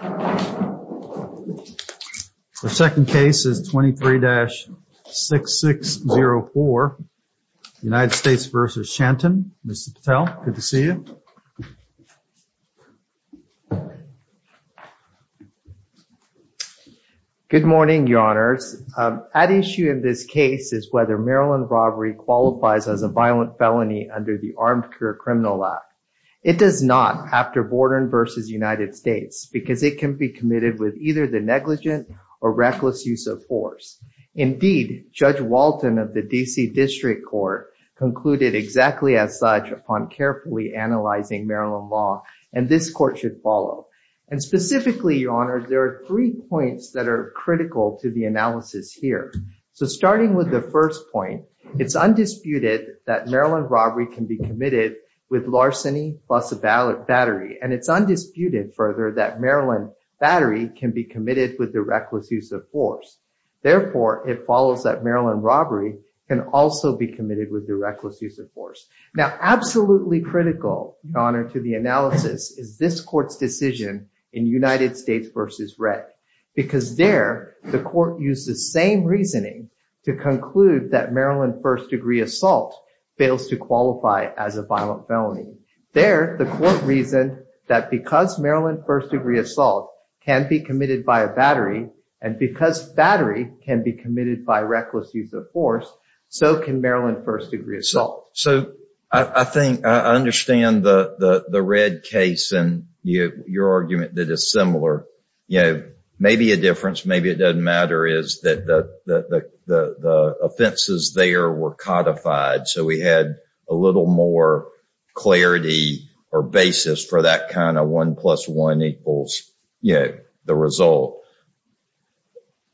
The second case is 23-6604, United States v. Shanton. Mr. Patel, good to see you. Good morning, Your Honors. At issue in this case is whether Maryland robbery qualifies as a violent felony under the Armed Career Criminal Act. It does not after Borden v. United States because it can be committed with either the negligent or reckless use of force. Indeed, Judge Walton of the D.C. District Court concluded exactly as such upon carefully analyzing Maryland law, and this court should follow. And specifically, Your Honors, there are three points that are critical to the analysis here. So starting with the first point, it's undisputed that Maryland robbery can be committed with larceny plus battery, and it's undisputed further that Maryland battery can be committed with the reckless use of force. Therefore, it follows that Maryland robbery can also be committed with the reckless use of force. Now, absolutely critical, Your Honor, to the analysis is this court's decision in United States v. Wreck because there the court used the same reasoning to conclude that Maryland first-degree assault fails to qualify as a violent felony. There, the court reasoned that because Maryland first-degree assault can be committed by a battery and because battery can be committed by reckless use of force, so can Maryland first-degree assault. So I think I understand the red case and your argument that is similar. Maybe a difference, maybe it doesn't matter, is that the offenses there were codified, so we had a little more clarity or basis for that kind of one plus one equals the result.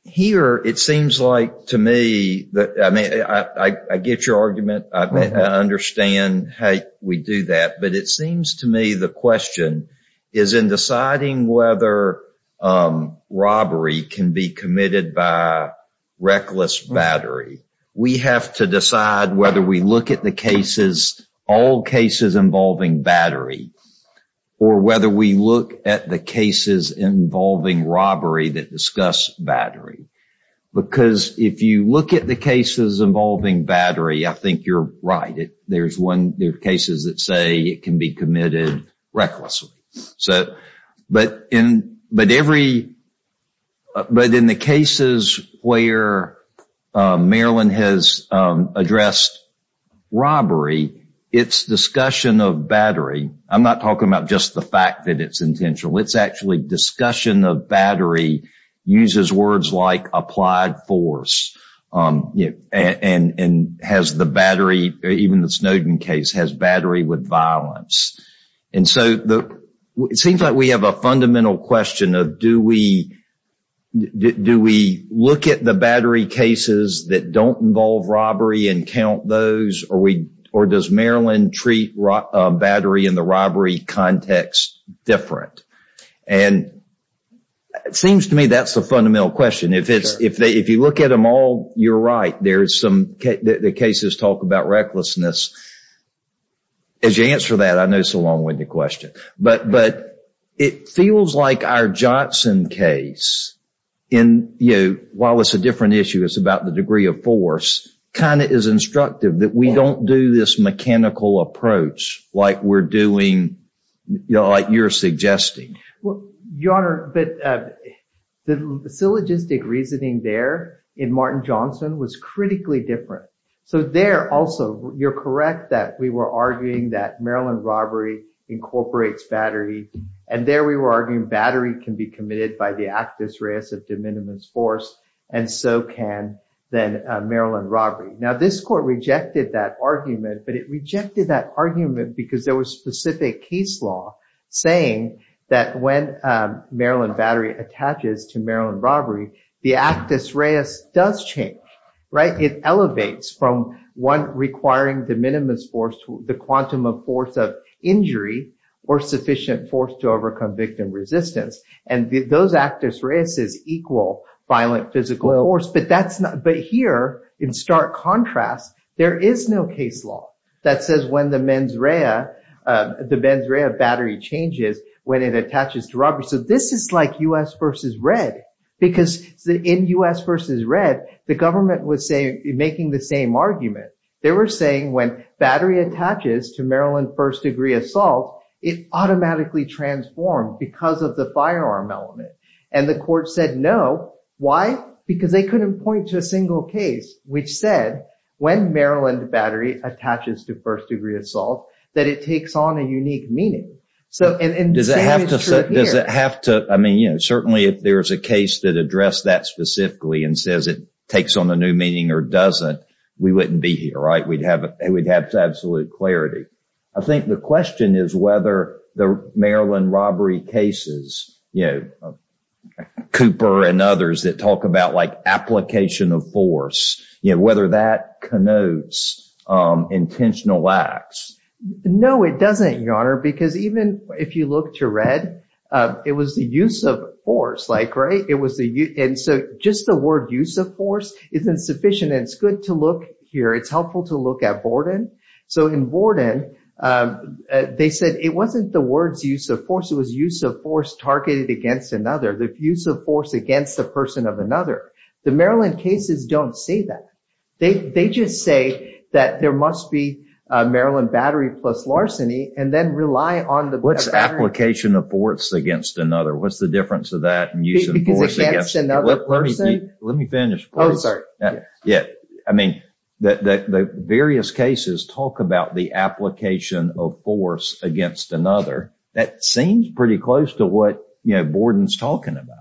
Here, it seems like to me, I get your argument, I understand how we do that, but it seems to me the question is in deciding whether robbery can be committed by reckless battery, we have to decide whether we look at the cases, all cases involving battery or whether we look at the cases involving robbery that discuss battery because if you look at the cases involving battery, I think you're right. There's one, there are cases that say it can be committed recklessly. But in the cases where Maryland has addressed robbery, its discussion of battery, I'm not talking about just the fact that it's intentional, it's actually discussion of battery uses words like applied force and has the battery, even the Snowden case, has battery with violence. And so it seems like we have a fundamental question of do we look at the battery cases that don't involve robbery and count those or does Maryland treat battery in the robbery context different? And it seems to me that's the fundamental question. If you look at them all, you're right. There's some cases that talk about recklessness. As you answer that, I know it's a long-winded question. But it feels like our Johnson case, while it's a different issue, it's about the degree of force, kind of is instructive that we don't do this mechanical approach like we're doing, like you're suggesting. Your Honor, the syllogistic reasoning there in Martin Johnson was critically different. So there also, you're correct that we were arguing that Maryland robbery incorporates battery. And there we were arguing battery can be committed by the actus reus of de minimis force and so can then Maryland robbery. Now this court rejected that argument, but it rejected that argument because there was specific case law saying that when Maryland battery attaches to Maryland robbery, the actus reus does change, right? It elevates from one requiring de minimis force to the quantum of force of injury or sufficient force to overcome victim resistance. And those actus reuses equal violent physical force. But here, in stark contrast, there is no case law that says when the mens rea, the mens rea battery changes when it attaches to robbery. So this is like U.S. versus red, because in U.S. versus red, the government was making the same argument. They were saying when battery attaches to Maryland first degree assault, it automatically transformed because of the firearm element. And the court said no. Why? Because they couldn't point to a single case which said when Maryland battery attaches to first degree assault, that it takes on a unique meaning. Does it have to, I mean, you know, certainly if there's a case that addressed that specifically and says it takes on a new meaning or doesn't, we wouldn't be here, right? We'd have absolute clarity. I think the question is whether the Maryland robbery cases, you know, Cooper and others that talk about like application of force, you know, whether that connotes intentional acts. No, it doesn't, Your Honor, because even if you look to red, it was the use of force, like, right? It was the use. And so just the word use of force isn't sufficient. It's good to look here. It's helpful to look at Borden. So in Borden, they said it wasn't the words use of force. It was use of force targeted against another, the use of force against the person of another. The Maryland cases don't say that. They just say that there must be a Maryland battery plus larceny and then rely on the What's application of force against another? What's the difference of that? Let me finish. I mean, the various cases talk about the application of force against another. That seems pretty close to what, you know, Borden's talking about.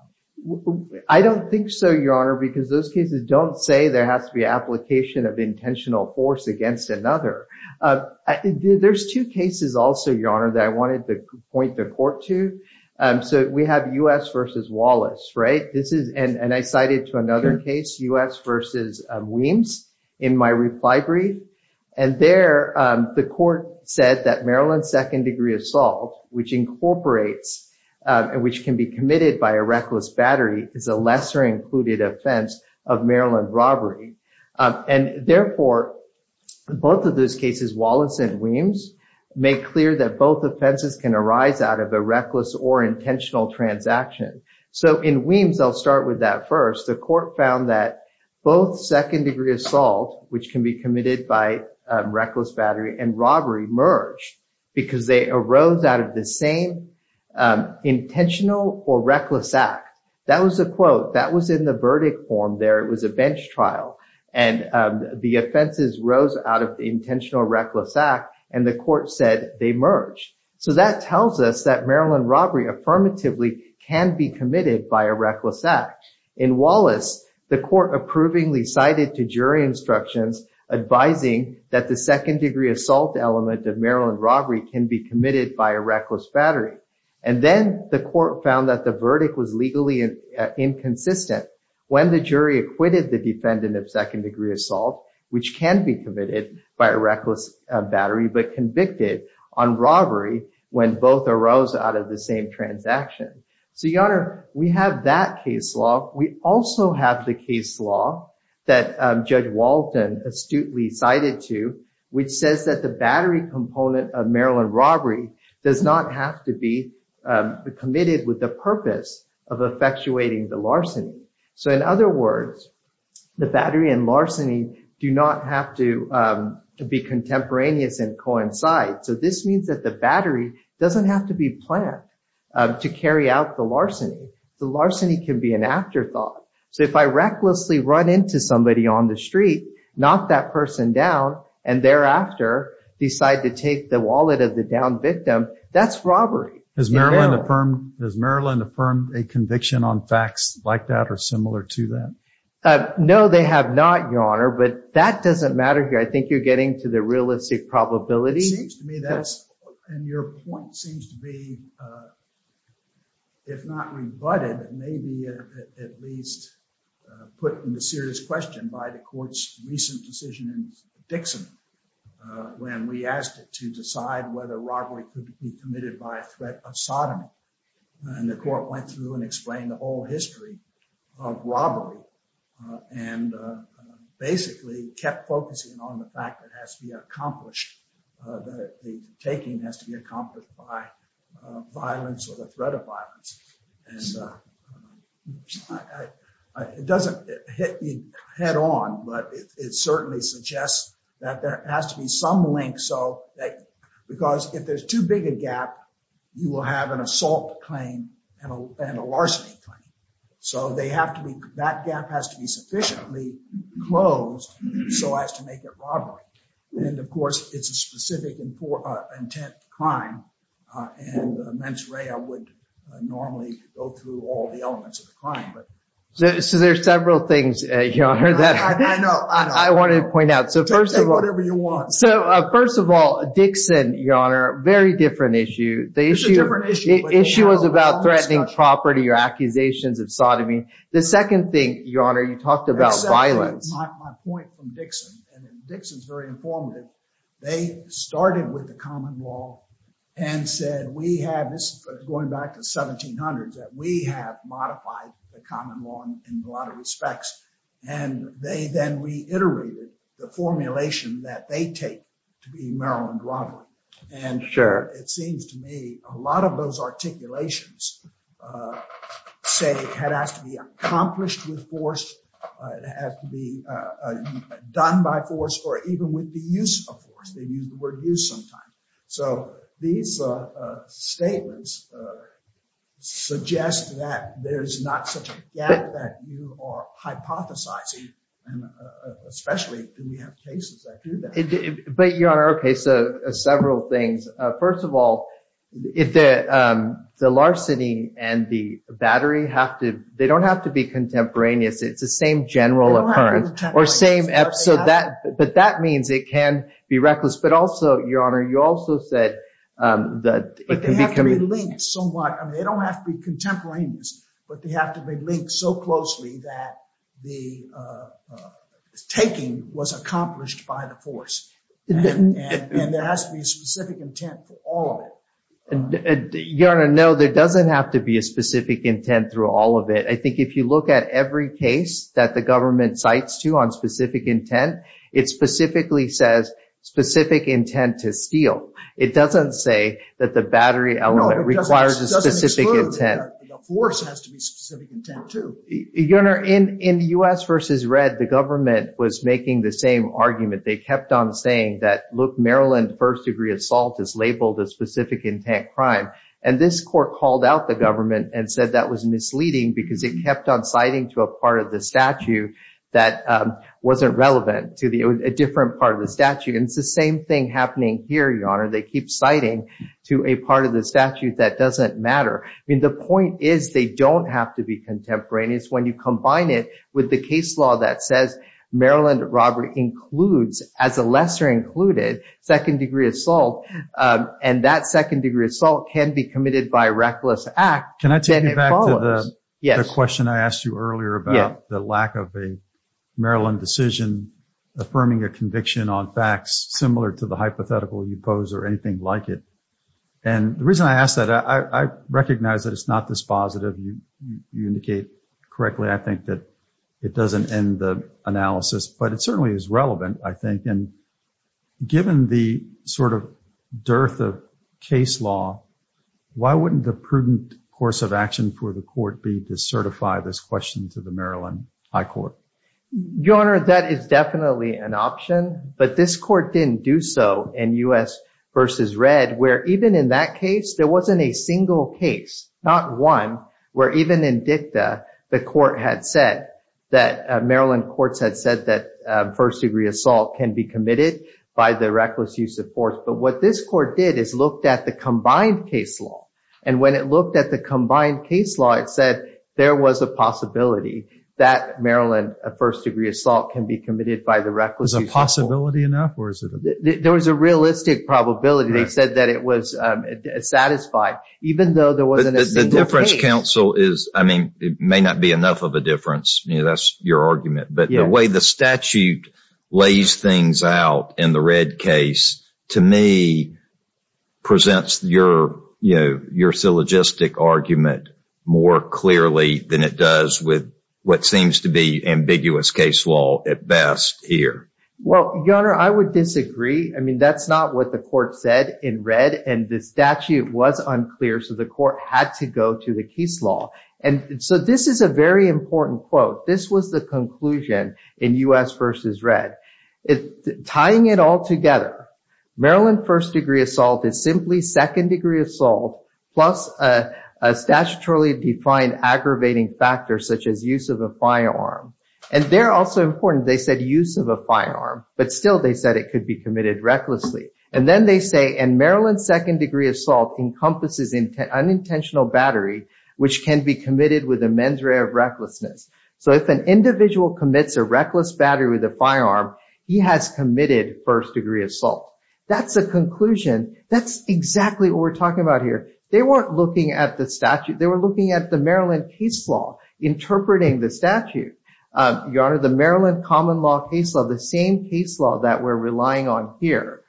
I don't think so, Your Honor, because those cases don't say there has to be application of intentional force against another. There's two cases also, Your Honor, that I wanted to point the court to. So we have U.S. versus Wallace, right? This is and I cited to another case, U.S. versus Weems in my reply brief. And there the court said that Maryland's second degree assault, which incorporates and which can be committed by a reckless battery, is a lesser included offense of Maryland robbery. And therefore, both of those cases, Wallace and Weems, make clear that both offenses can arise out of a reckless or intentional transaction. So in Weems, I'll start with that first. The court found that both second degree assault, which can be committed by reckless battery and robbery, merged because they arose out of the same intentional or reckless act. That was a quote that was in the verdict form there. It was a bench trial and the offenses rose out of the intentional or reckless act. And the court said they merged. So that tells us that Maryland robbery affirmatively can be committed by a reckless act. In Wallace, the court approvingly cited to jury instructions advising that the second degree assault element of Maryland robbery can be committed by a reckless battery. And then the court found that the verdict was legally inconsistent when the jury acquitted the defendant of second when both arose out of the same transaction. So your honor, we have that case law. We also have the case law that Judge Walton astutely cited to, which says that the battery component of Maryland robbery does not have to be committed with the purpose of effectuating the larceny. So in other words, the battery and larceny do not have to be contemporaneous and coincide. So this means that the battery doesn't have to be planned to carry out the larceny. The larceny can be an afterthought. So if I recklessly run into somebody on the street, knock that person down, and thereafter decide to take the wallet of the downed victim, that's robbery. Does Maryland affirm a conviction on facts like that or similar to that? No, they have not, your honor, but that doesn't matter here. I think you're getting to the probability. It seems to me that's, and your point seems to be, if not rebutted, maybe at least put into serious question by the court's recent decision in Dixon when we asked it to decide whether robbery could be committed by a threat of sodomy. And the court went through and explained the whole history of robbery and basically kept focusing on the fact that it has to be accomplished, that the taking has to be accomplished by violence or the threat of violence. It doesn't hit you head on, but it certainly suggests that there has to be some link. Like, because if there's too big a gap, you will have an assault claim and a larceny claim. That gap has to be sufficiently closed so as to make it robbery. And of course, it's a specific intent crime and mens rea would normally go through all the elements of the crime. So there's several things, your honor, that I want to point out. Take whatever you want. So first of all, Dixon, your honor, very different issue. Issue was about threatening property or accusations of sodomy. The second thing, your honor, you talked about violence. My point from Dixon, and Dixon's very informative, they started with the common law and said we have, this is going back to 1700s, that we have modified the common law in a lot of respects. And they then reiterated the formulation that they take to be Maryland robbery. And it seems to me a lot of those articulations say it has to be accomplished with force. It has to be done by force or even with the use of force. They use the word use sometimes. So these statements suggest that there's not such a gap that you are hypothesizing, especially when we have cases that do that. But your honor, okay, so several things. First of all, if the larceny and the battery have to, they don't have to be contemporaneous. It's the same general occurrence or same episode, but that means it can be reckless. But also, your honor, you also said that- But they have to be linked somewhat. They don't have to be contemporaneous, but they have to be linked so closely that the taking was accomplished by the force. And there has to be a specific intent for all of it. Your honor, no, there doesn't have to be a specific intent through all of it. I think if you look at every case that the government cites to on specific intent, it specifically says specific intent to steal. It doesn't say that the battery element requires a specific intent. No, it doesn't exclude that the force has to be specific intent too. Your honor, in U.S. v. Red, the government was making the same argument. They kept on saying that, look, Maryland first degree assault is labeled a specific intent crime. And this court called out the government and said that was misleading because it kept on citing to a part of the statute that wasn't relevant to a different part of the statute. And it's the same thing happening here, your honor. They keep citing to a part of the statute that doesn't matter. I mean, the point is they don't have to be contemporaneous. When you combine it with the case law that says Maryland robbery includes, as a lesser included, second degree assault, and that second degree assault can be committed by a reckless act- Yes. The question I asked you earlier about the lack of a Maryland decision affirming a conviction on facts similar to the hypothetical you pose or anything like it. And the reason I ask that, I recognize that it's not this positive. You indicate correctly, I think, that it doesn't end the analysis. But it certainly is relevant, I think. And given the sort of dearth of case law, why wouldn't the prudent course of action for the court be to certify this question to the Maryland High Court? Your honor, that is definitely an option. But this court didn't do so in U.S. versus Red, where even in that case, there wasn't a single case, not one, where even in DICTA, the court had said that Maryland courts had said that first degree assault can be committed by the reckless use of force. But what this court did is looked at the combined case law. And when it looked at the combined case law, it said there was a possibility that Maryland first degree assault can be committed by the reckless use of force. Is a possibility enough, or is it a- There was a realistic probability. They said that it was satisfied, even though there wasn't a single case. The difference, counsel, is, I mean, it may not be enough of a difference. That's your argument. But the way the statute lays things out in the Red case, to me, presents your, you know, your syllogistic argument more clearly than it does with what seems to be ambiguous case law at best here. Well, your honor, I would disagree. I mean, that's not what the court said in Red. And the statute was unclear. So the court had to go to the case law. And so this is a very important quote. This was the conclusion in U.S. versus Red. Tying it all together, Maryland first degree assault is simply second degree assault, plus a statutorily defined aggravating factor, such as use of a firearm. And they're also important. They said use of a firearm. But still, they said it could be committed recklessly. And then they say, and Maryland second degree assault encompasses unintentional battery, which can be committed with a mens rea of recklessness. So if an individual commits a reckless battery with a firearm, he has committed first degree assault. That's a conclusion. That's exactly what we're talking about here. They weren't looking at the statute. They were looking at the Maryland case law, interpreting the statute. Your honor, the Maryland common law case law, the same case law that we're relying on here.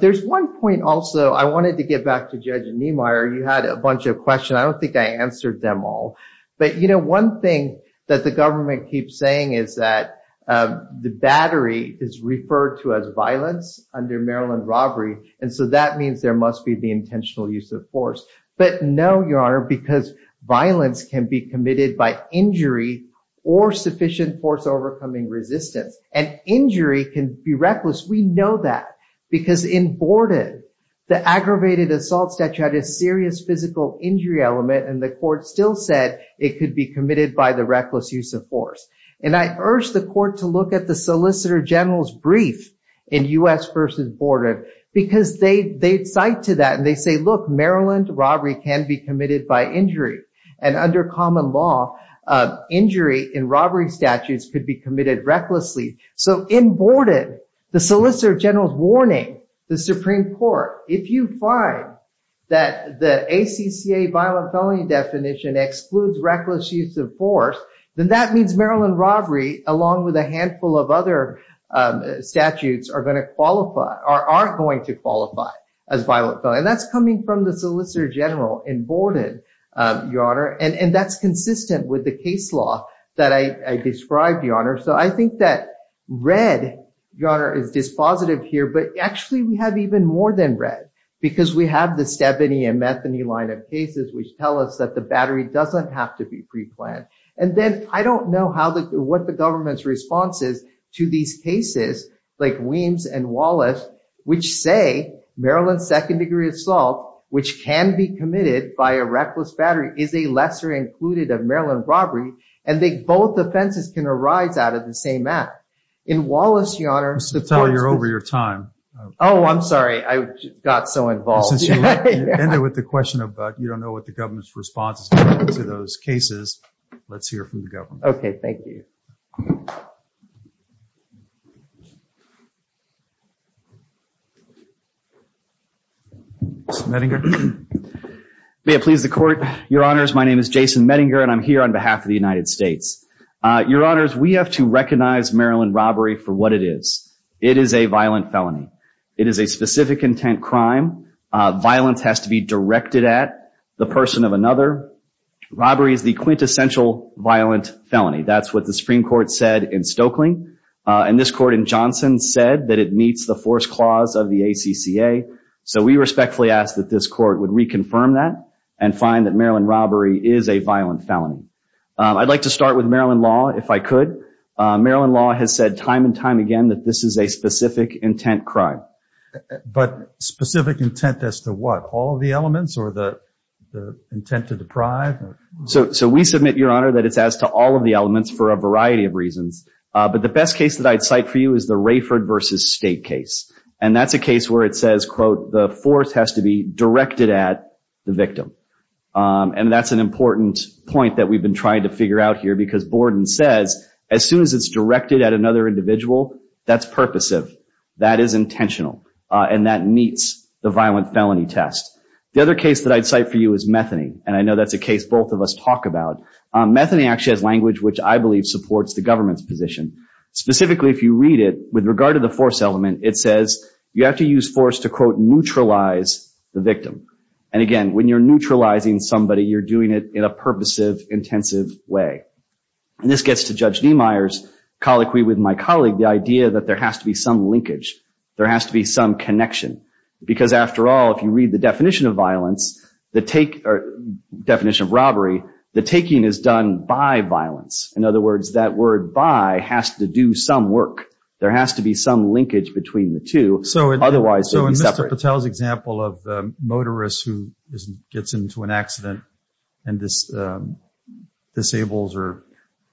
There's one point also, I wanted to get back to Judge Niemeyer. You had a bunch of questions. I don't think I answered them all. But one thing that the government keeps saying is that the battery is referred to as violence under Maryland robbery. And so that means there must be the intentional use of force. But no, your honor, because violence can be committed by injury or sufficient force overcoming resistance. And injury can be reckless. We know that. Because in Borden, the aggravated assault statute had a serious physical injury element. And the court still said it could be committed by the reckless use of force. And I urge the court to look at the Solicitor General's brief in U.S. versus Borden. Because they cite to that and they say, look, Maryland robbery can be committed by injury. And under common law, injury in robbery statutes could be committed recklessly. So in Borden, the Solicitor General's warning, the Supreme Court, if you find that the ACCA violent felony definition excludes reckless use of force, then that means Maryland robbery, along with a handful of other statutes, are going to qualify or aren't going to qualify as violent. And that's coming from the Solicitor General in Borden, your honor. And that's consistent with the case law that I described, your honor. So I think that red, your honor, is dispositive here. But actually, we have even more than red. Because we have the Stabany and Metheny line of cases, which tell us that the battery doesn't have to be preplanned. And then I don't know what the government's response is to these cases, like Weems and Wallace, which say Maryland second degree assault, which can be committed by a reckless battery, is a lesser included of Maryland robbery. And they both offenses can arise out of the same act. In Wallace, your honor, Mr. Patel, you're over your time. Oh, I'm sorry. I got so involved. Since you ended with the question about you don't know what the government's response is to those cases, let's hear from the government. Okay, thank you. Medinger. May it please the court. Your honors, my name is Jason Medinger. And I'm here on behalf of the United States. Your honors, we have to recognize Maryland robbery for what it is. It is a violent felony. It is a specific intent crime. Violence has to be directed at the person of another. Robbery is the quintessential violent felony. That's what the Supreme Court said in Stokely. And this court in Johnson said that it meets the force clause of the ACCA. So we respectfully ask that this court would reconfirm that and find that Maryland robbery is a violent felony. I'd like to start with Maryland law, if I could. Maryland law has said time and time again that this is a specific intent crime. But specific intent as to what? All of the elements or the intent to deprive? So we submit, your honor, that it's as to all of the elements for a variety of reasons. But the best case that I'd cite for you is the Rayford versus State case. And that's a case where it says, quote, the force has to be directed at the victim. And that's an important point that we've been trying to figure out here. Because Borden says, as soon as it's directed at another individual, that's purposive. That is intentional. And that meets the violent felony test. The other case that I'd cite for you is Methony. And I know that's a case both of us talk about. Methony actually has language which I believe supports the government's position. Specifically, if you read it, with regard to the force element, it says you have to use force to, quote, neutralize the victim. And again, when you're neutralizing somebody, you're doing it in a purposive, intensive way. And this gets to Judge Niemeyer's colloquy with my colleague, the idea that there has to be some linkage. There has to be some connection. Because after all, if you read the definition of violence, the definition of robbery, the taking is done by violence. In other words, that word by has to do some work. There has to be some linkage between the two. Otherwise, it's separate. So in Mr. Patel's example of a motorist who gets into an accident and disables or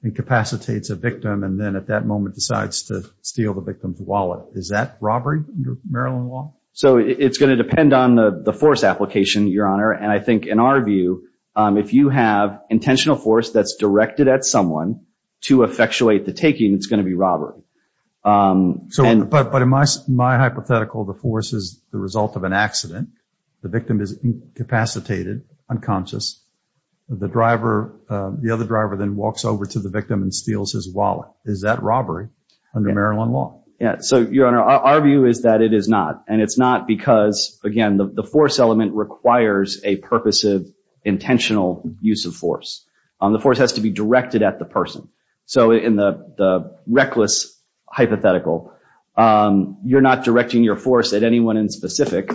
incapacitates a victim, and then at that moment decides to steal the victim's wallet, is that robbery under Maryland law? So it's going to depend on the force application, Your Honor. And I think in our view, if you have intentional force that's directed at someone to effectuate the taking, it's going to be robbery. So, but in my hypothetical, the force is the result of an accident. The victim is incapacitated, unconscious. The driver, the other driver then walks over to the victim and steals his wallet. Is that robbery under Maryland law? Yeah. So, Your Honor, our view is that it is not. And it's not because, again, the force element requires a purposive, intentional use of force. The force has to be directed at the person. So in the reckless hypothetical, you're not directing your force at anyone in specific.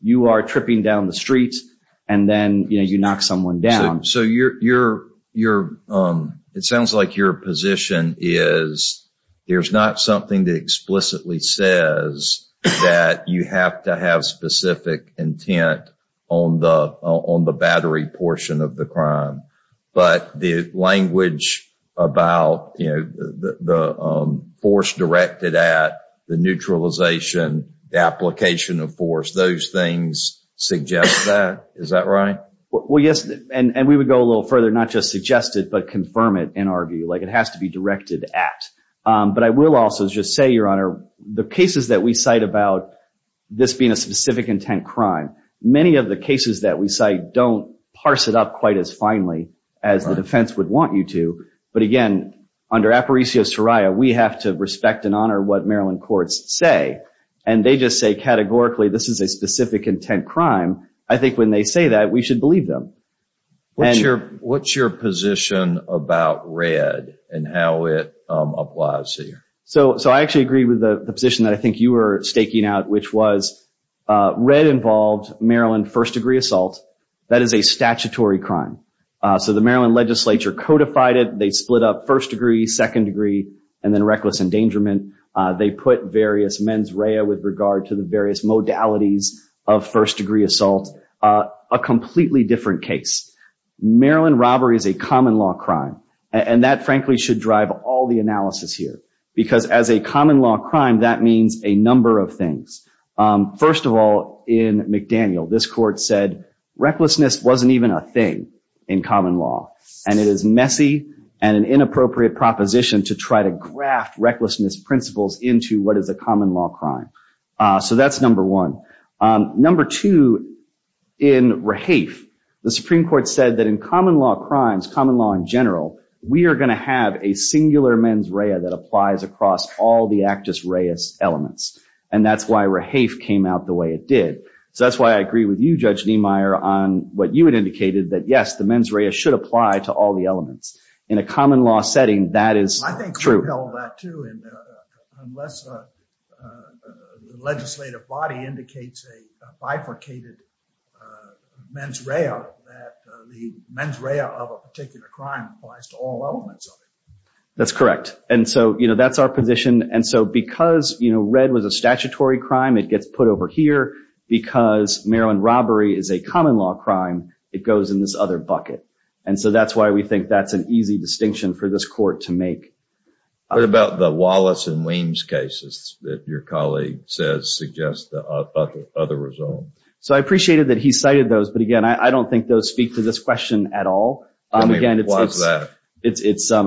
You are tripping down the street. And then, you know, you knock someone down. So it sounds like your position is there's not something that explicitly says that you have to have specific intent on the battery portion of the crime. But the language about, you know, the force directed at, the neutralization, the application of force, those things suggest that. Is that right? Well, yes. And we would go a little further, not just suggest it, but confirm it and argue, like it has to be directed at. But I will also just say, Your Honor, the cases that we cite about this being a specific intent crime, many of the cases that we cite don't parse it up quite as finely as the defense would want you to. But again, under apparitio soria, we have to respect and honor what Maryland courts say. And they just say categorically, this is a specific intent crime. I think when they say that, we should believe them. What's your position about red and how it applies here? So I actually agree with the position that I think you were staking out, which was, red involved Maryland first degree assault. That is a statutory crime. So the Maryland legislature codified it. They split up first degree, second degree, and then reckless endangerment. They put various mens rea with regard to the various modalities of first degree assault, a completely different case. Maryland robbery is a common law crime. And that frankly should drive all the analysis here. Because as a common law crime, that means a number of things. First of all, in McDaniel, this court said, recklessness wasn't even a thing in common law. And it is messy and an inappropriate proposition to try to graft recklessness principles into what is a common law crime. So that's number one. Number two, in Rahafe, the Supreme Court said that in common law crimes, common law in general, we are going to have a singular mens rea that applies across all the actus reus elements. And that's why Rahafe came out the way it did. So that's why I agree with you, Judge Niemeyer, on what you had indicated, that yes, the mens rea should apply to all the elements. In a common law setting, that is true. I think we held that too. And unless the legislative body indicates a bifurcated mens rea, that the mens rea of a particular crime applies to all elements of it. That's correct. And so that's our position. And so because red was a statutory crime, it gets put over here. Because marijuana robbery is a common law crime, it goes in this other bucket. And so that's why we think that's an easy distinction for this court to make. What about the Wallace and Weems cases that your colleague says suggest the other result? So I appreciated that he cited those. But again, I don't think those speak to this question at all. Again, it's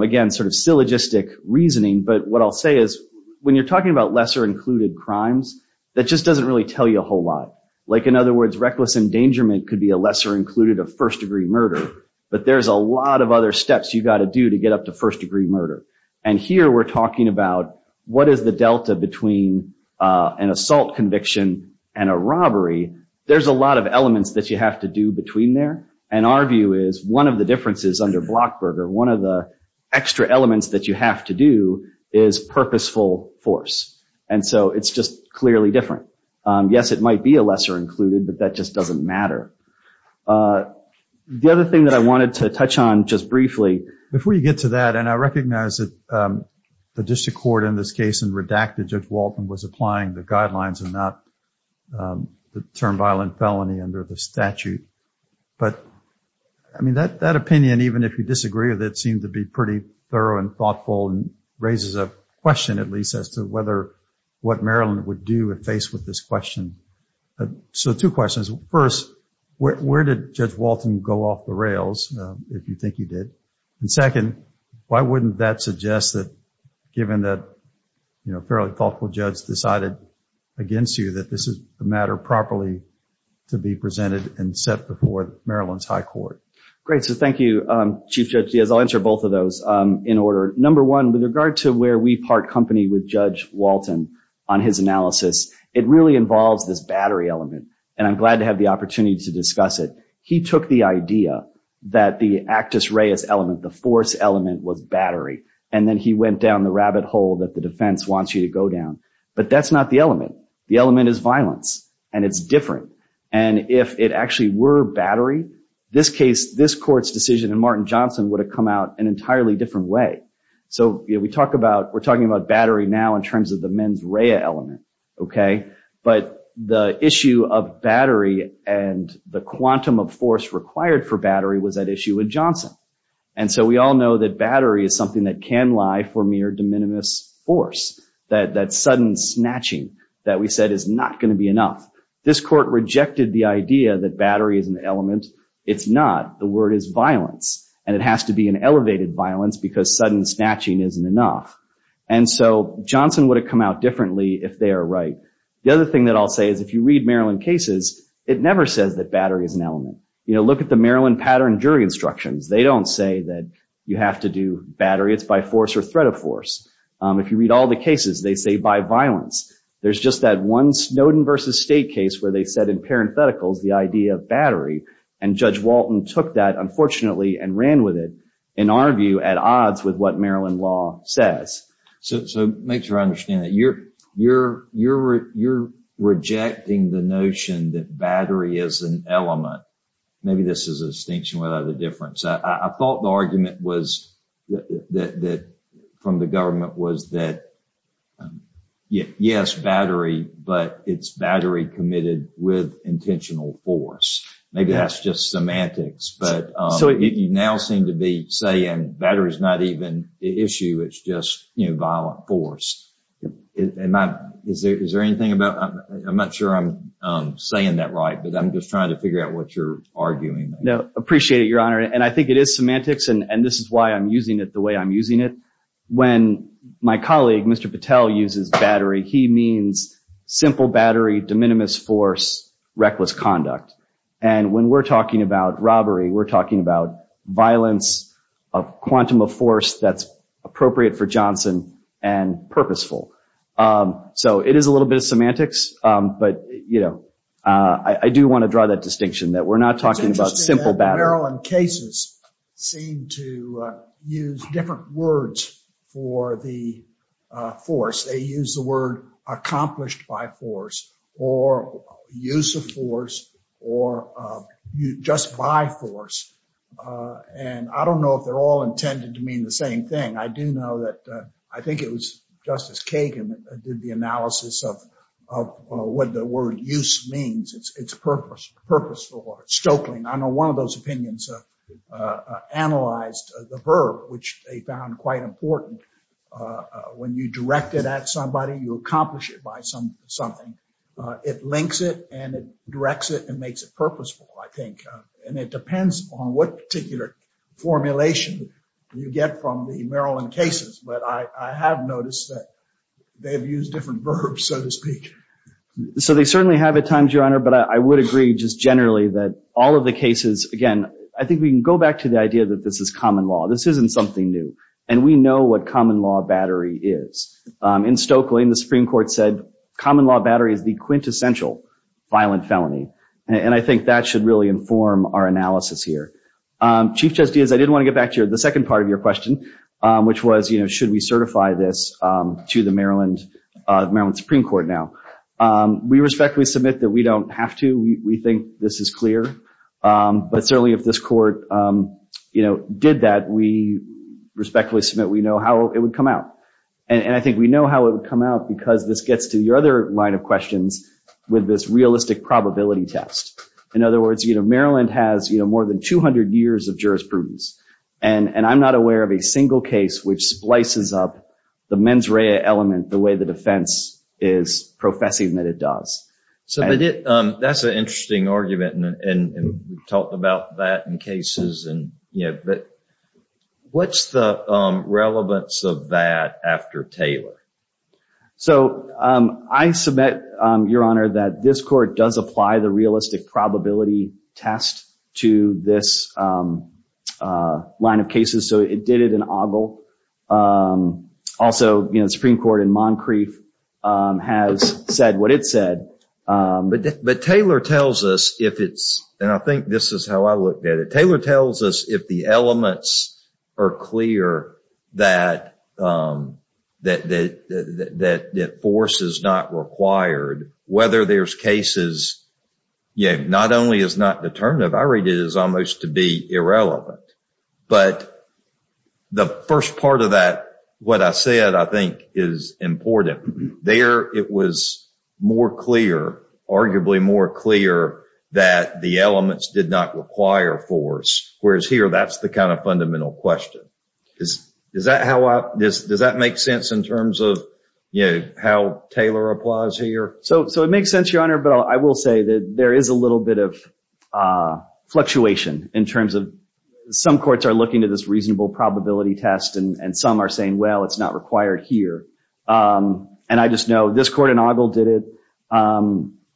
again, sort of syllogistic reasoning. But what I'll say is, when you're talking about lesser included crimes, that just doesn't really tell you a whole lot. Like in other words, reckless endangerment could be a lesser included of first degree murder. But there's a lot of other steps you got to do to get up to first degree murder. And here we're talking about, what is the delta between an assault conviction and a robbery? There's a lot of elements that you have to do between there. And our view is, one of the differences under Blockberger, one of the extra elements that you have to do is purposeful force. And so it's just clearly different. Yes, it might be a lesser included, but that just doesn't matter. The other thing that I wanted to touch on just briefly, before you get to that, and I recognize that the district court in this case and redacted Judge Walton was applying the guidelines and not the term violent felony under the statute. But I mean, that opinion, even if you disagree with it, seems to be pretty thorough and thoughtful and raises a question at least as to whether what Maryland would do if faced with this question. So two questions. First, where did Judge Walton go off the rails if you think he did? And second, why wouldn't that suggest that given that a fairly thoughtful judge decided against you that this is a matter properly to be presented and set before Maryland's high court? Great. So thank you, Chief Judge Diaz. I'll answer both of those in order. Number one, with regard to where we part company with Judge Walton on his analysis, it really involves this battery element. And I'm glad to have the opportunity to discuss it. He took the idea that the actus reus element, the force element was battery. And then he went down the rabbit hole that the defense wants you to go down. But that's not the element. The element is violence and it's different. And if it actually were battery, this case, this court's decision in Martin Johnson would have come out an entirely different way. So we're talking about battery now in terms of the mens rea element, okay? But the issue of battery and the quantum of force required for battery was that issue with Johnson. And so we all know that battery is something that can lie for mere de minimis force. That sudden snatching that we said is not going to be enough. This court rejected the idea that battery is an element. It's not. The word is violence. And it has to be an elevated violence because sudden snatching isn't enough. And so Johnson would have come out differently if they are right. The other thing that I'll say is if you read Maryland cases, it never says that battery is an element. Look at the Maryland pattern jury instructions. They don't say that you have to do battery. It's by force or threat of force. If you read all the cases, they say by violence. There's just that one Snowden v. State case where they said in parentheticals the idea of battery. And Judge Walton took that, unfortunately, and ran with it, in our view, at odds with what Maryland law says. So make sure I understand that. You're rejecting the notion that battery is an element. Maybe this is a distinction without a difference. I thought the argument from the government was that, yes, battery, but it's battery committed with intentional force. Maybe that's just semantics. But you now seem to be saying battery is not even the issue. It's just violent force. Is there anything about... I'm not sure I'm saying that right. But I'm just trying to figure out what you're arguing. No, appreciate it, Your Honor. And I think it is semantics. And this is why I'm using it the way I'm using it. When my colleague, Mr. Patel, uses battery, he means simple battery, de minimis force, reckless conduct. And when we're talking about robbery, we're talking about violence of quantum of force that's appropriate for Johnson and purposeful. So it is a little bit of semantics. But I do want to draw that distinction that we're not talking about simple battery. Maryland cases seem to use different words for the force. They use the word accomplished by force or use of force or just by force. And I don't know if they're all intended to mean the same thing. I do know that, I think it was Justice Kagan did the analysis of what the word use means. It's purposeful or stroking. I know one of those opinions analyzed the verb, which they found quite important. When you direct it at somebody, you accomplish it by something. It links it and it directs it and makes it purposeful, I think. And it depends on what particular formulation you get from the Maryland cases. But I have noticed that they've used different verbs, so to speak. So they certainly have at times, Your Honor. But I would agree just generally that all of the cases, again, I think we can go back to the idea that this is common law. This isn't something new. And we know what common law battery is. In Stokely, the Supreme Court said common law battery is the quintessential violent felony. And I think that should really inform our analysis here. Chief Justice, I did want to get back to the second part of your question, which was should we certify this to the Maryland Supreme Court now? We respectfully submit that we don't have to. We think this is clear. But certainly if this court did that, we respectfully submit we know how it would come out. And I think we know how it would come out because this gets to your other line of questions with this realistic probability test. In other words, Maryland has more than 200 years of jurisprudence. And I'm not aware of a single case which splices up the mens rea element the way the defense is professing that it does. So that's an interesting argument. And we've talked about that in cases. But what's the relevance of that after Taylor? So I submit, Your Honor, that this court does apply the realistic probability test to this line of cases. So it did it in Ogle. Also, the Supreme Court in Moncrief has said what it said. But Taylor tells us if it's, and I think this is how I looked at it. Taylor tells us if the elements are clear that force is not required, whether there's cases, yeah, not only is not determinative, I read it as almost to be irrelevant. But the first part of that, what I said, I think is important. There, it was more clear, arguably more clear that the elements did not require force. Whereas here, that's the kind of fundamental question. Does that make sense in terms of how Taylor applies here? So it makes sense, Your Honor. But I will say that there is a little bit of fluctuation in terms of some courts are looking to this reasonable probability test. And some are saying, well, it's not required here. And I just know this court in Ogle did it.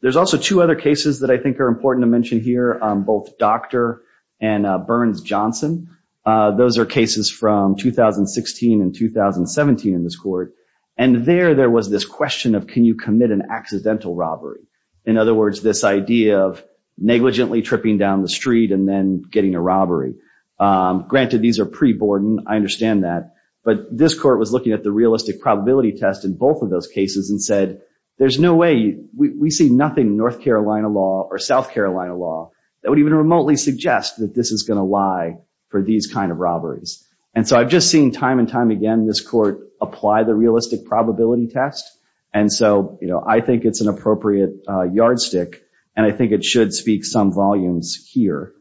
There's also two other cases that I think are important to mention here, both Dr. and Burns-Johnson. Those are cases from 2016 and 2017 in this court. And there, there was this question of, can you commit an accidental robbery? In other words, this idea of negligently tripping down the street and then getting a robbery. Granted, these are pre-Borden, I understand that. But this court was looking at the realistic probability test in both of those cases and said, there's no way, we see nothing in North Carolina law or South Carolina law that would even remotely suggest that this is gonna lie for these kind of robberies. And so I've just seen time and time again, this court apply the realistic probability test. And so I think it's an appropriate yardstick. And I think it should speak some volumes here.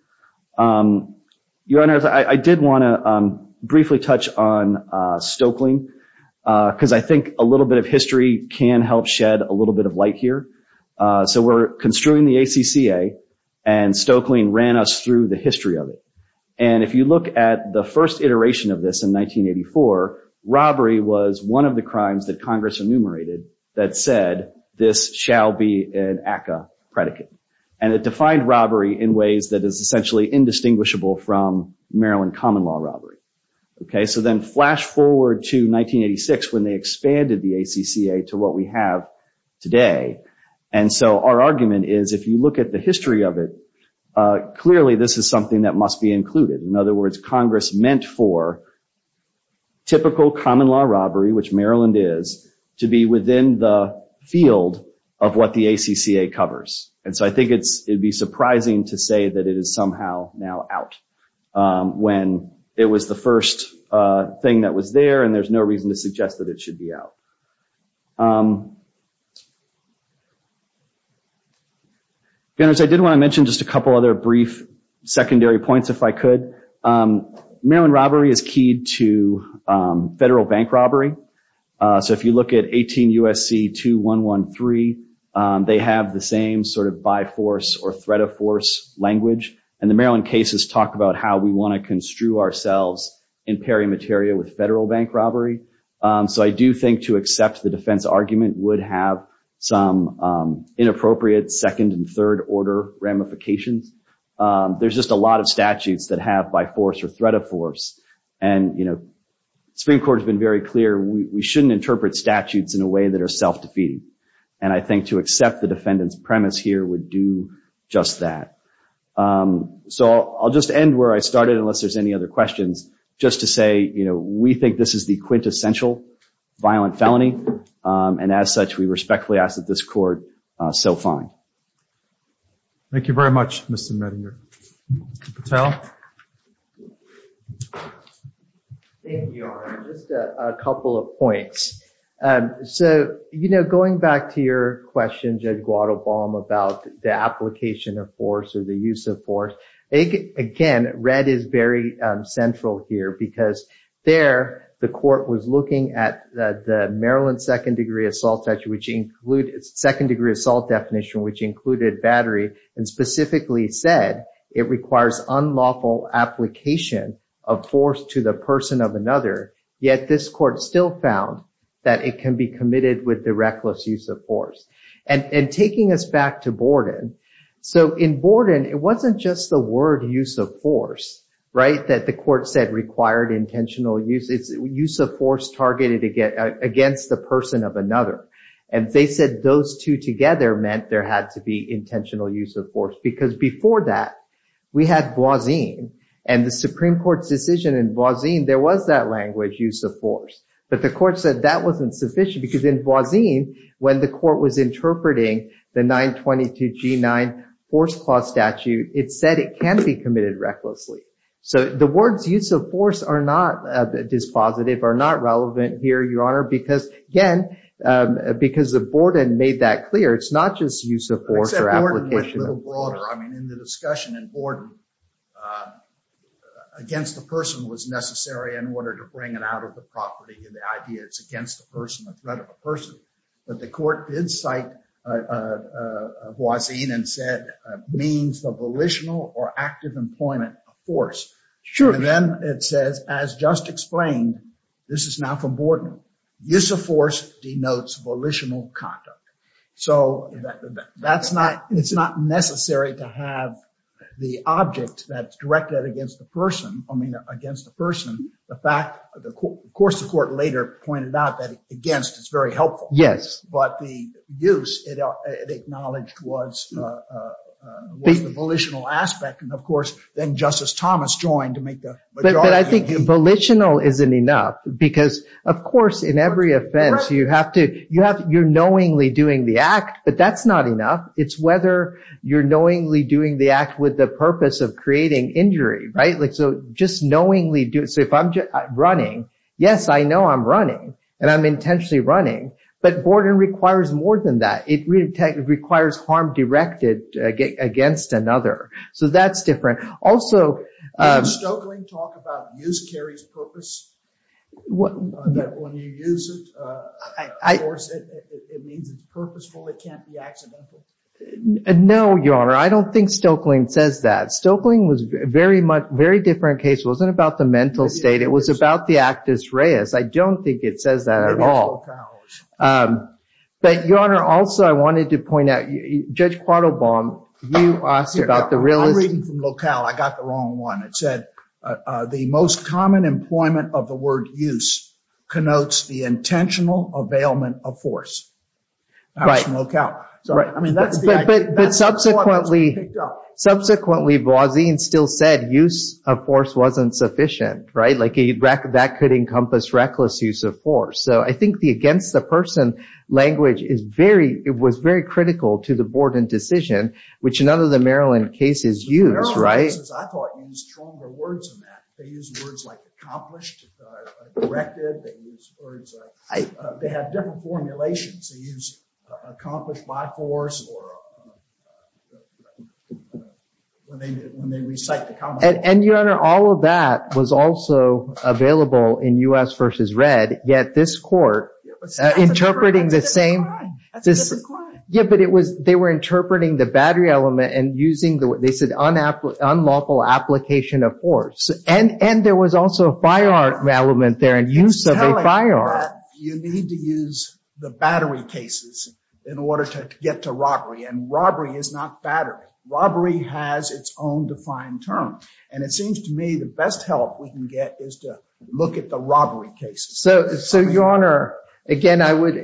Your Honor, I did wanna briefly touch on Stoeckling. Cause I think a little bit of history can help shed a little bit of light here. So we're construing the ACCA and Stoeckling ran us through the history of it. And if you look at the first iteration of this in 1984, robbery was one of the crimes that Congress enumerated that said, this shall be an ACCA predicate. And it defined robbery in ways that is essentially indistinguishable from Maryland common law robbery. Okay, so then flash forward to 1986 when they expanded the ACCA to what we have today. And so our argument is, if you look at the history of it, clearly this is something that must be included. In other words, Congress meant for typical common law robbery which Maryland is to be within the field of what the ACCA covers. And so I think it'd be surprising to say that it is somehow now out when it was the first thing that was there and there's no reason to suggest that it should be out. And as I did wanna mention just a couple other brief secondary points if I could. Maryland robbery is keyed to federal bank robbery. So if you look at 18 USC 2113, they have the same sort of by force or threat of force language. And the Maryland cases talk about how we wanna construe ourselves in peri materia with federal bank robbery. So I do think to accept the defense argument would have some inappropriate second and third order ramifications. There's just a lot of statutes that have by force or threat of force. And Supreme Court has been very clear, we shouldn't interpret statutes in a way that are self-defeating. And I think to accept the defendant's premise here would do just that. So I'll just end where I started unless there's any other questions. Just to say, we think this is the quintessential violent felony. And as such, we respectfully ask that this court so find. Thank you very much, Mr. Mettinger. Mr. Patel. Thank you, Your Honor. Just a couple of points. So going back to your question, Judge Guadalbom about the application of force or the use of force. Again, red is very central here because there the court was looking at the Maryland second degree assault statute which included second degree assault definition which included battery and specifically said it requires unlawful application of force to the person of another. Yet this court still found that it can be committed with the reckless use of force. And taking us back to Borden. So in Borden, it wasn't just the word use of force, right? That the court said required intentional use. It's use of force targeted against the person of another. And they said those two together meant there had to be intentional use of force because before that, we had Boisin and the Supreme Court's decision in Boisin there was that language use of force. But the court said that wasn't sufficient because in Boisin, when the court was interpreting the 922 G9 force clause statute it said it can be committed recklessly. So the words use of force are not dispositive are not relevant here, Your Honor because again, because of Borden made that clear it's not just use of force or application. Except Borden went a little broader. I mean, in the discussion in Borden against the person was necessary in order to bring it out of the property and the idea it's against the person, the threat of a person. But the court did cite Boisin and said means the volitional or active employment of force. And then it says, as just explained this is now from Borden. Use of force denotes volitional conduct. So it's not necessary to have the object that's directed against the person. I mean, against the person. The fact, of course, the court later pointed out that against is very helpful. But the use it acknowledged was the volitional aspect. And of course, then Justice Thomas joined to make the- But I think volitional isn't enough because of course, in every offense you have to, you're knowingly doing the act but that's not enough. It's whether you're knowingly doing the act with the purpose of creating injury, right? Like, so just knowingly do it. So if I'm running, yes, I know I'm running and I'm intentionally running but Borden requires more than that. It requires harm directed against another. So that's different. Also- Did Stoeckling talk about use carries purpose? That when you use it, it means it's purposeful. It can't be accidental. No, Your Honor. I don't think Stoeckling says that. Stoeckling was very different case. Wasn't about the mental state. It was about the actus reus. I don't think it says that at all. But Your Honor, also, I wanted to point out Judge Quattlebaum, you asked about the realist- I'm reading from locale. I got the wrong one. It said, the most common employment of the word use connotes the intentional availment of force. That's from locale. I mean, that's the idea. That's the one that was picked up. Subsequently, Boisin still said use of force wasn't sufficient. That could encompass reckless use of force. So I think the against-the-person language was very critical to the board and decision, which none of the Maryland cases use. The Maryland cases, I thought, use stronger words than that. They use words like accomplished, directed. They have different formulations. They use accomplished by force or when they recite- And Your Honor, all of that was also available in U.S. v. Red. Yet this court, interpreting the same- Yeah, but they were interpreting the battery element and using, they said, unlawful application of force. And there was also a firearm element there and use of a firearm. You need to use the battery cases in order to get to robbery. And robbery is not battery. Robbery has its own defined term. And it seems to me the best help we can get is to look at the robbery cases. So Your Honor, again, I would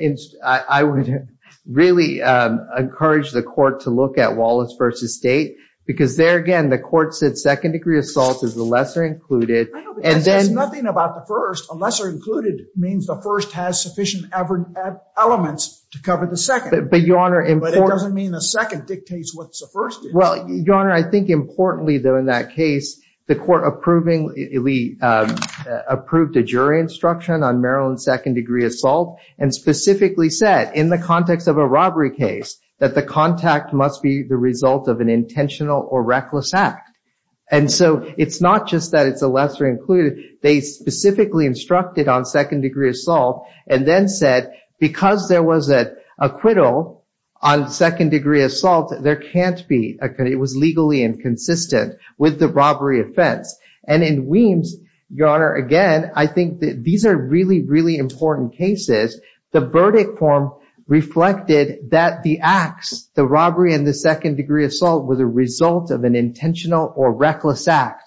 really encourage the court to look at Wallace v. State because there, again, the court said second degree assault is the lesser included. I know, but that says nothing about the first. A lesser included means the first has sufficient elements to cover the second. But Your Honor- But it doesn't mean the second dictates what the first is. Well, Your Honor, I think importantly, though, in that case, the court approved a jury instruction on Maryland second degree assault and specifically said, in the context of a robbery case, that the contact must be the result of an intentional or reckless act. And so it's not just that it's a lesser included. They specifically instructed on second degree assault and then said, because there was an acquittal on second degree assault, it was legally inconsistent with the robbery offense. And in Weems, Your Honor, again, I think that these are really, really important cases. The verdict form reflected that the acts, the robbery and the second degree assault, were the result of an intentional or reckless act.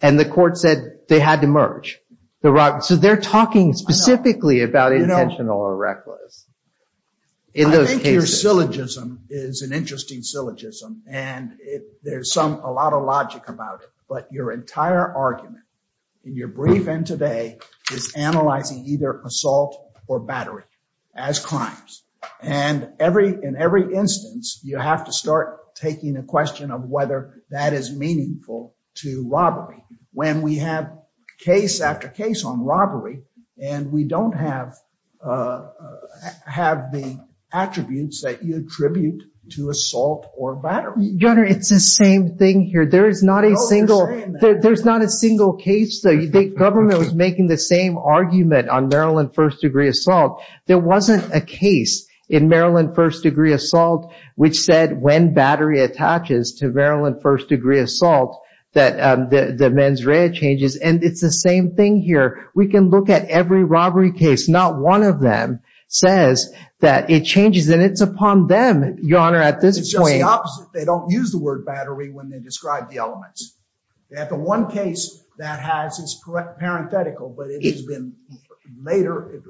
And the court said they had to merge. So they're talking specifically about intentional or reckless in those cases. I think your syllogism is an interesting syllogism. And there's a lot of logic about it. But your entire argument in your brief end today is analyzing either assault or battery as crimes. And in every instance, you have to start taking a question of whether that is meaningful to robbery. When we have case after case on robbery and we don't have the attributes that you attribute to assault or battery. Your Honor, it's the same thing here. There's not a single case, though. Government was making the same argument on Maryland first degree assault. There wasn't a case in Maryland first degree assault which said when battery attaches to Maryland first degree assault that the mens rea changes. And it's the same thing here. We can look at every robbery case. Not one of them says that it changes. And it's upon them, Your Honor, at this point. It's just the opposite. They don't use the word battery when they describe the elements. The one case that has is parenthetical, but it has been later.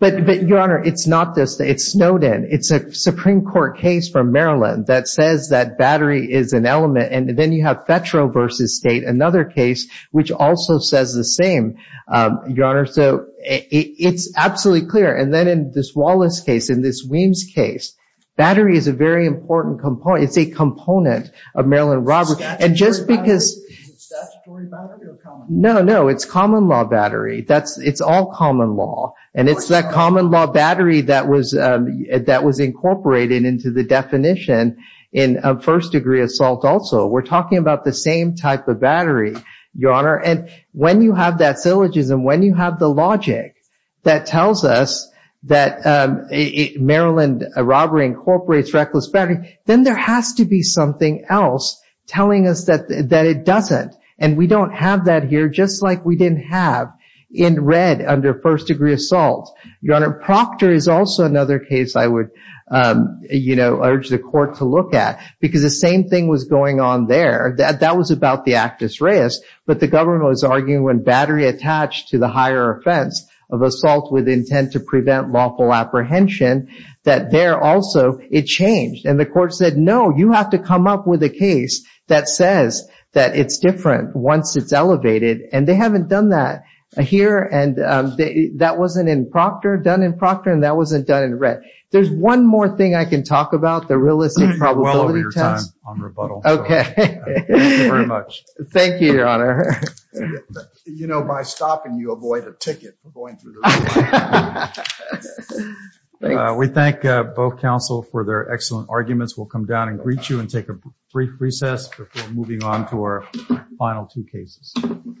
But Your Honor, it's not this. It's Snowden. It's a Supreme Court case from Maryland that says that battery is an element. And then you have Fetro versus State, another case which also says the same. Your Honor, so it's absolutely clear. And then in this Wallace case, in this Weems case, battery is a very important component. It's a component of Maryland robbery. And just because- Is it statutory battery or common law? No, no. It's common law battery. It's all common law. And it's that common law battery that was incorporated into the definition in first degree assault also. We're talking about the same type of battery, Your Honor. And when you have that syllogism, when you have the logic that tells us that Maryland robbery incorporates reckless battery, then there has to be something else telling us that it doesn't. And we don't have that here, just like we didn't have in red under first degree assault. Your Honor, Proctor is also another case I would urge the court to look at because the same thing was going on there. That was about the actus reus. But the government was arguing when battery attached to the higher offense of assault with intent to prevent lawful apprehension, that there also, it changed. And the court said, no, you have to come up with a case that says that it's different once it's elevated. And they haven't done that here. And that wasn't in Proctor, done in Proctor. And that wasn't done in red. There's one more thing I can talk about, the realistic probability test. You're well over your time on rebuttal. Okay. Thank you very much. Thank you, Your Honor. You know, by stopping, you avoid a ticket for going through. We thank both counsel for their excellent arguments. We'll come down and greet you and take a brief recess before moving on to our final two cases.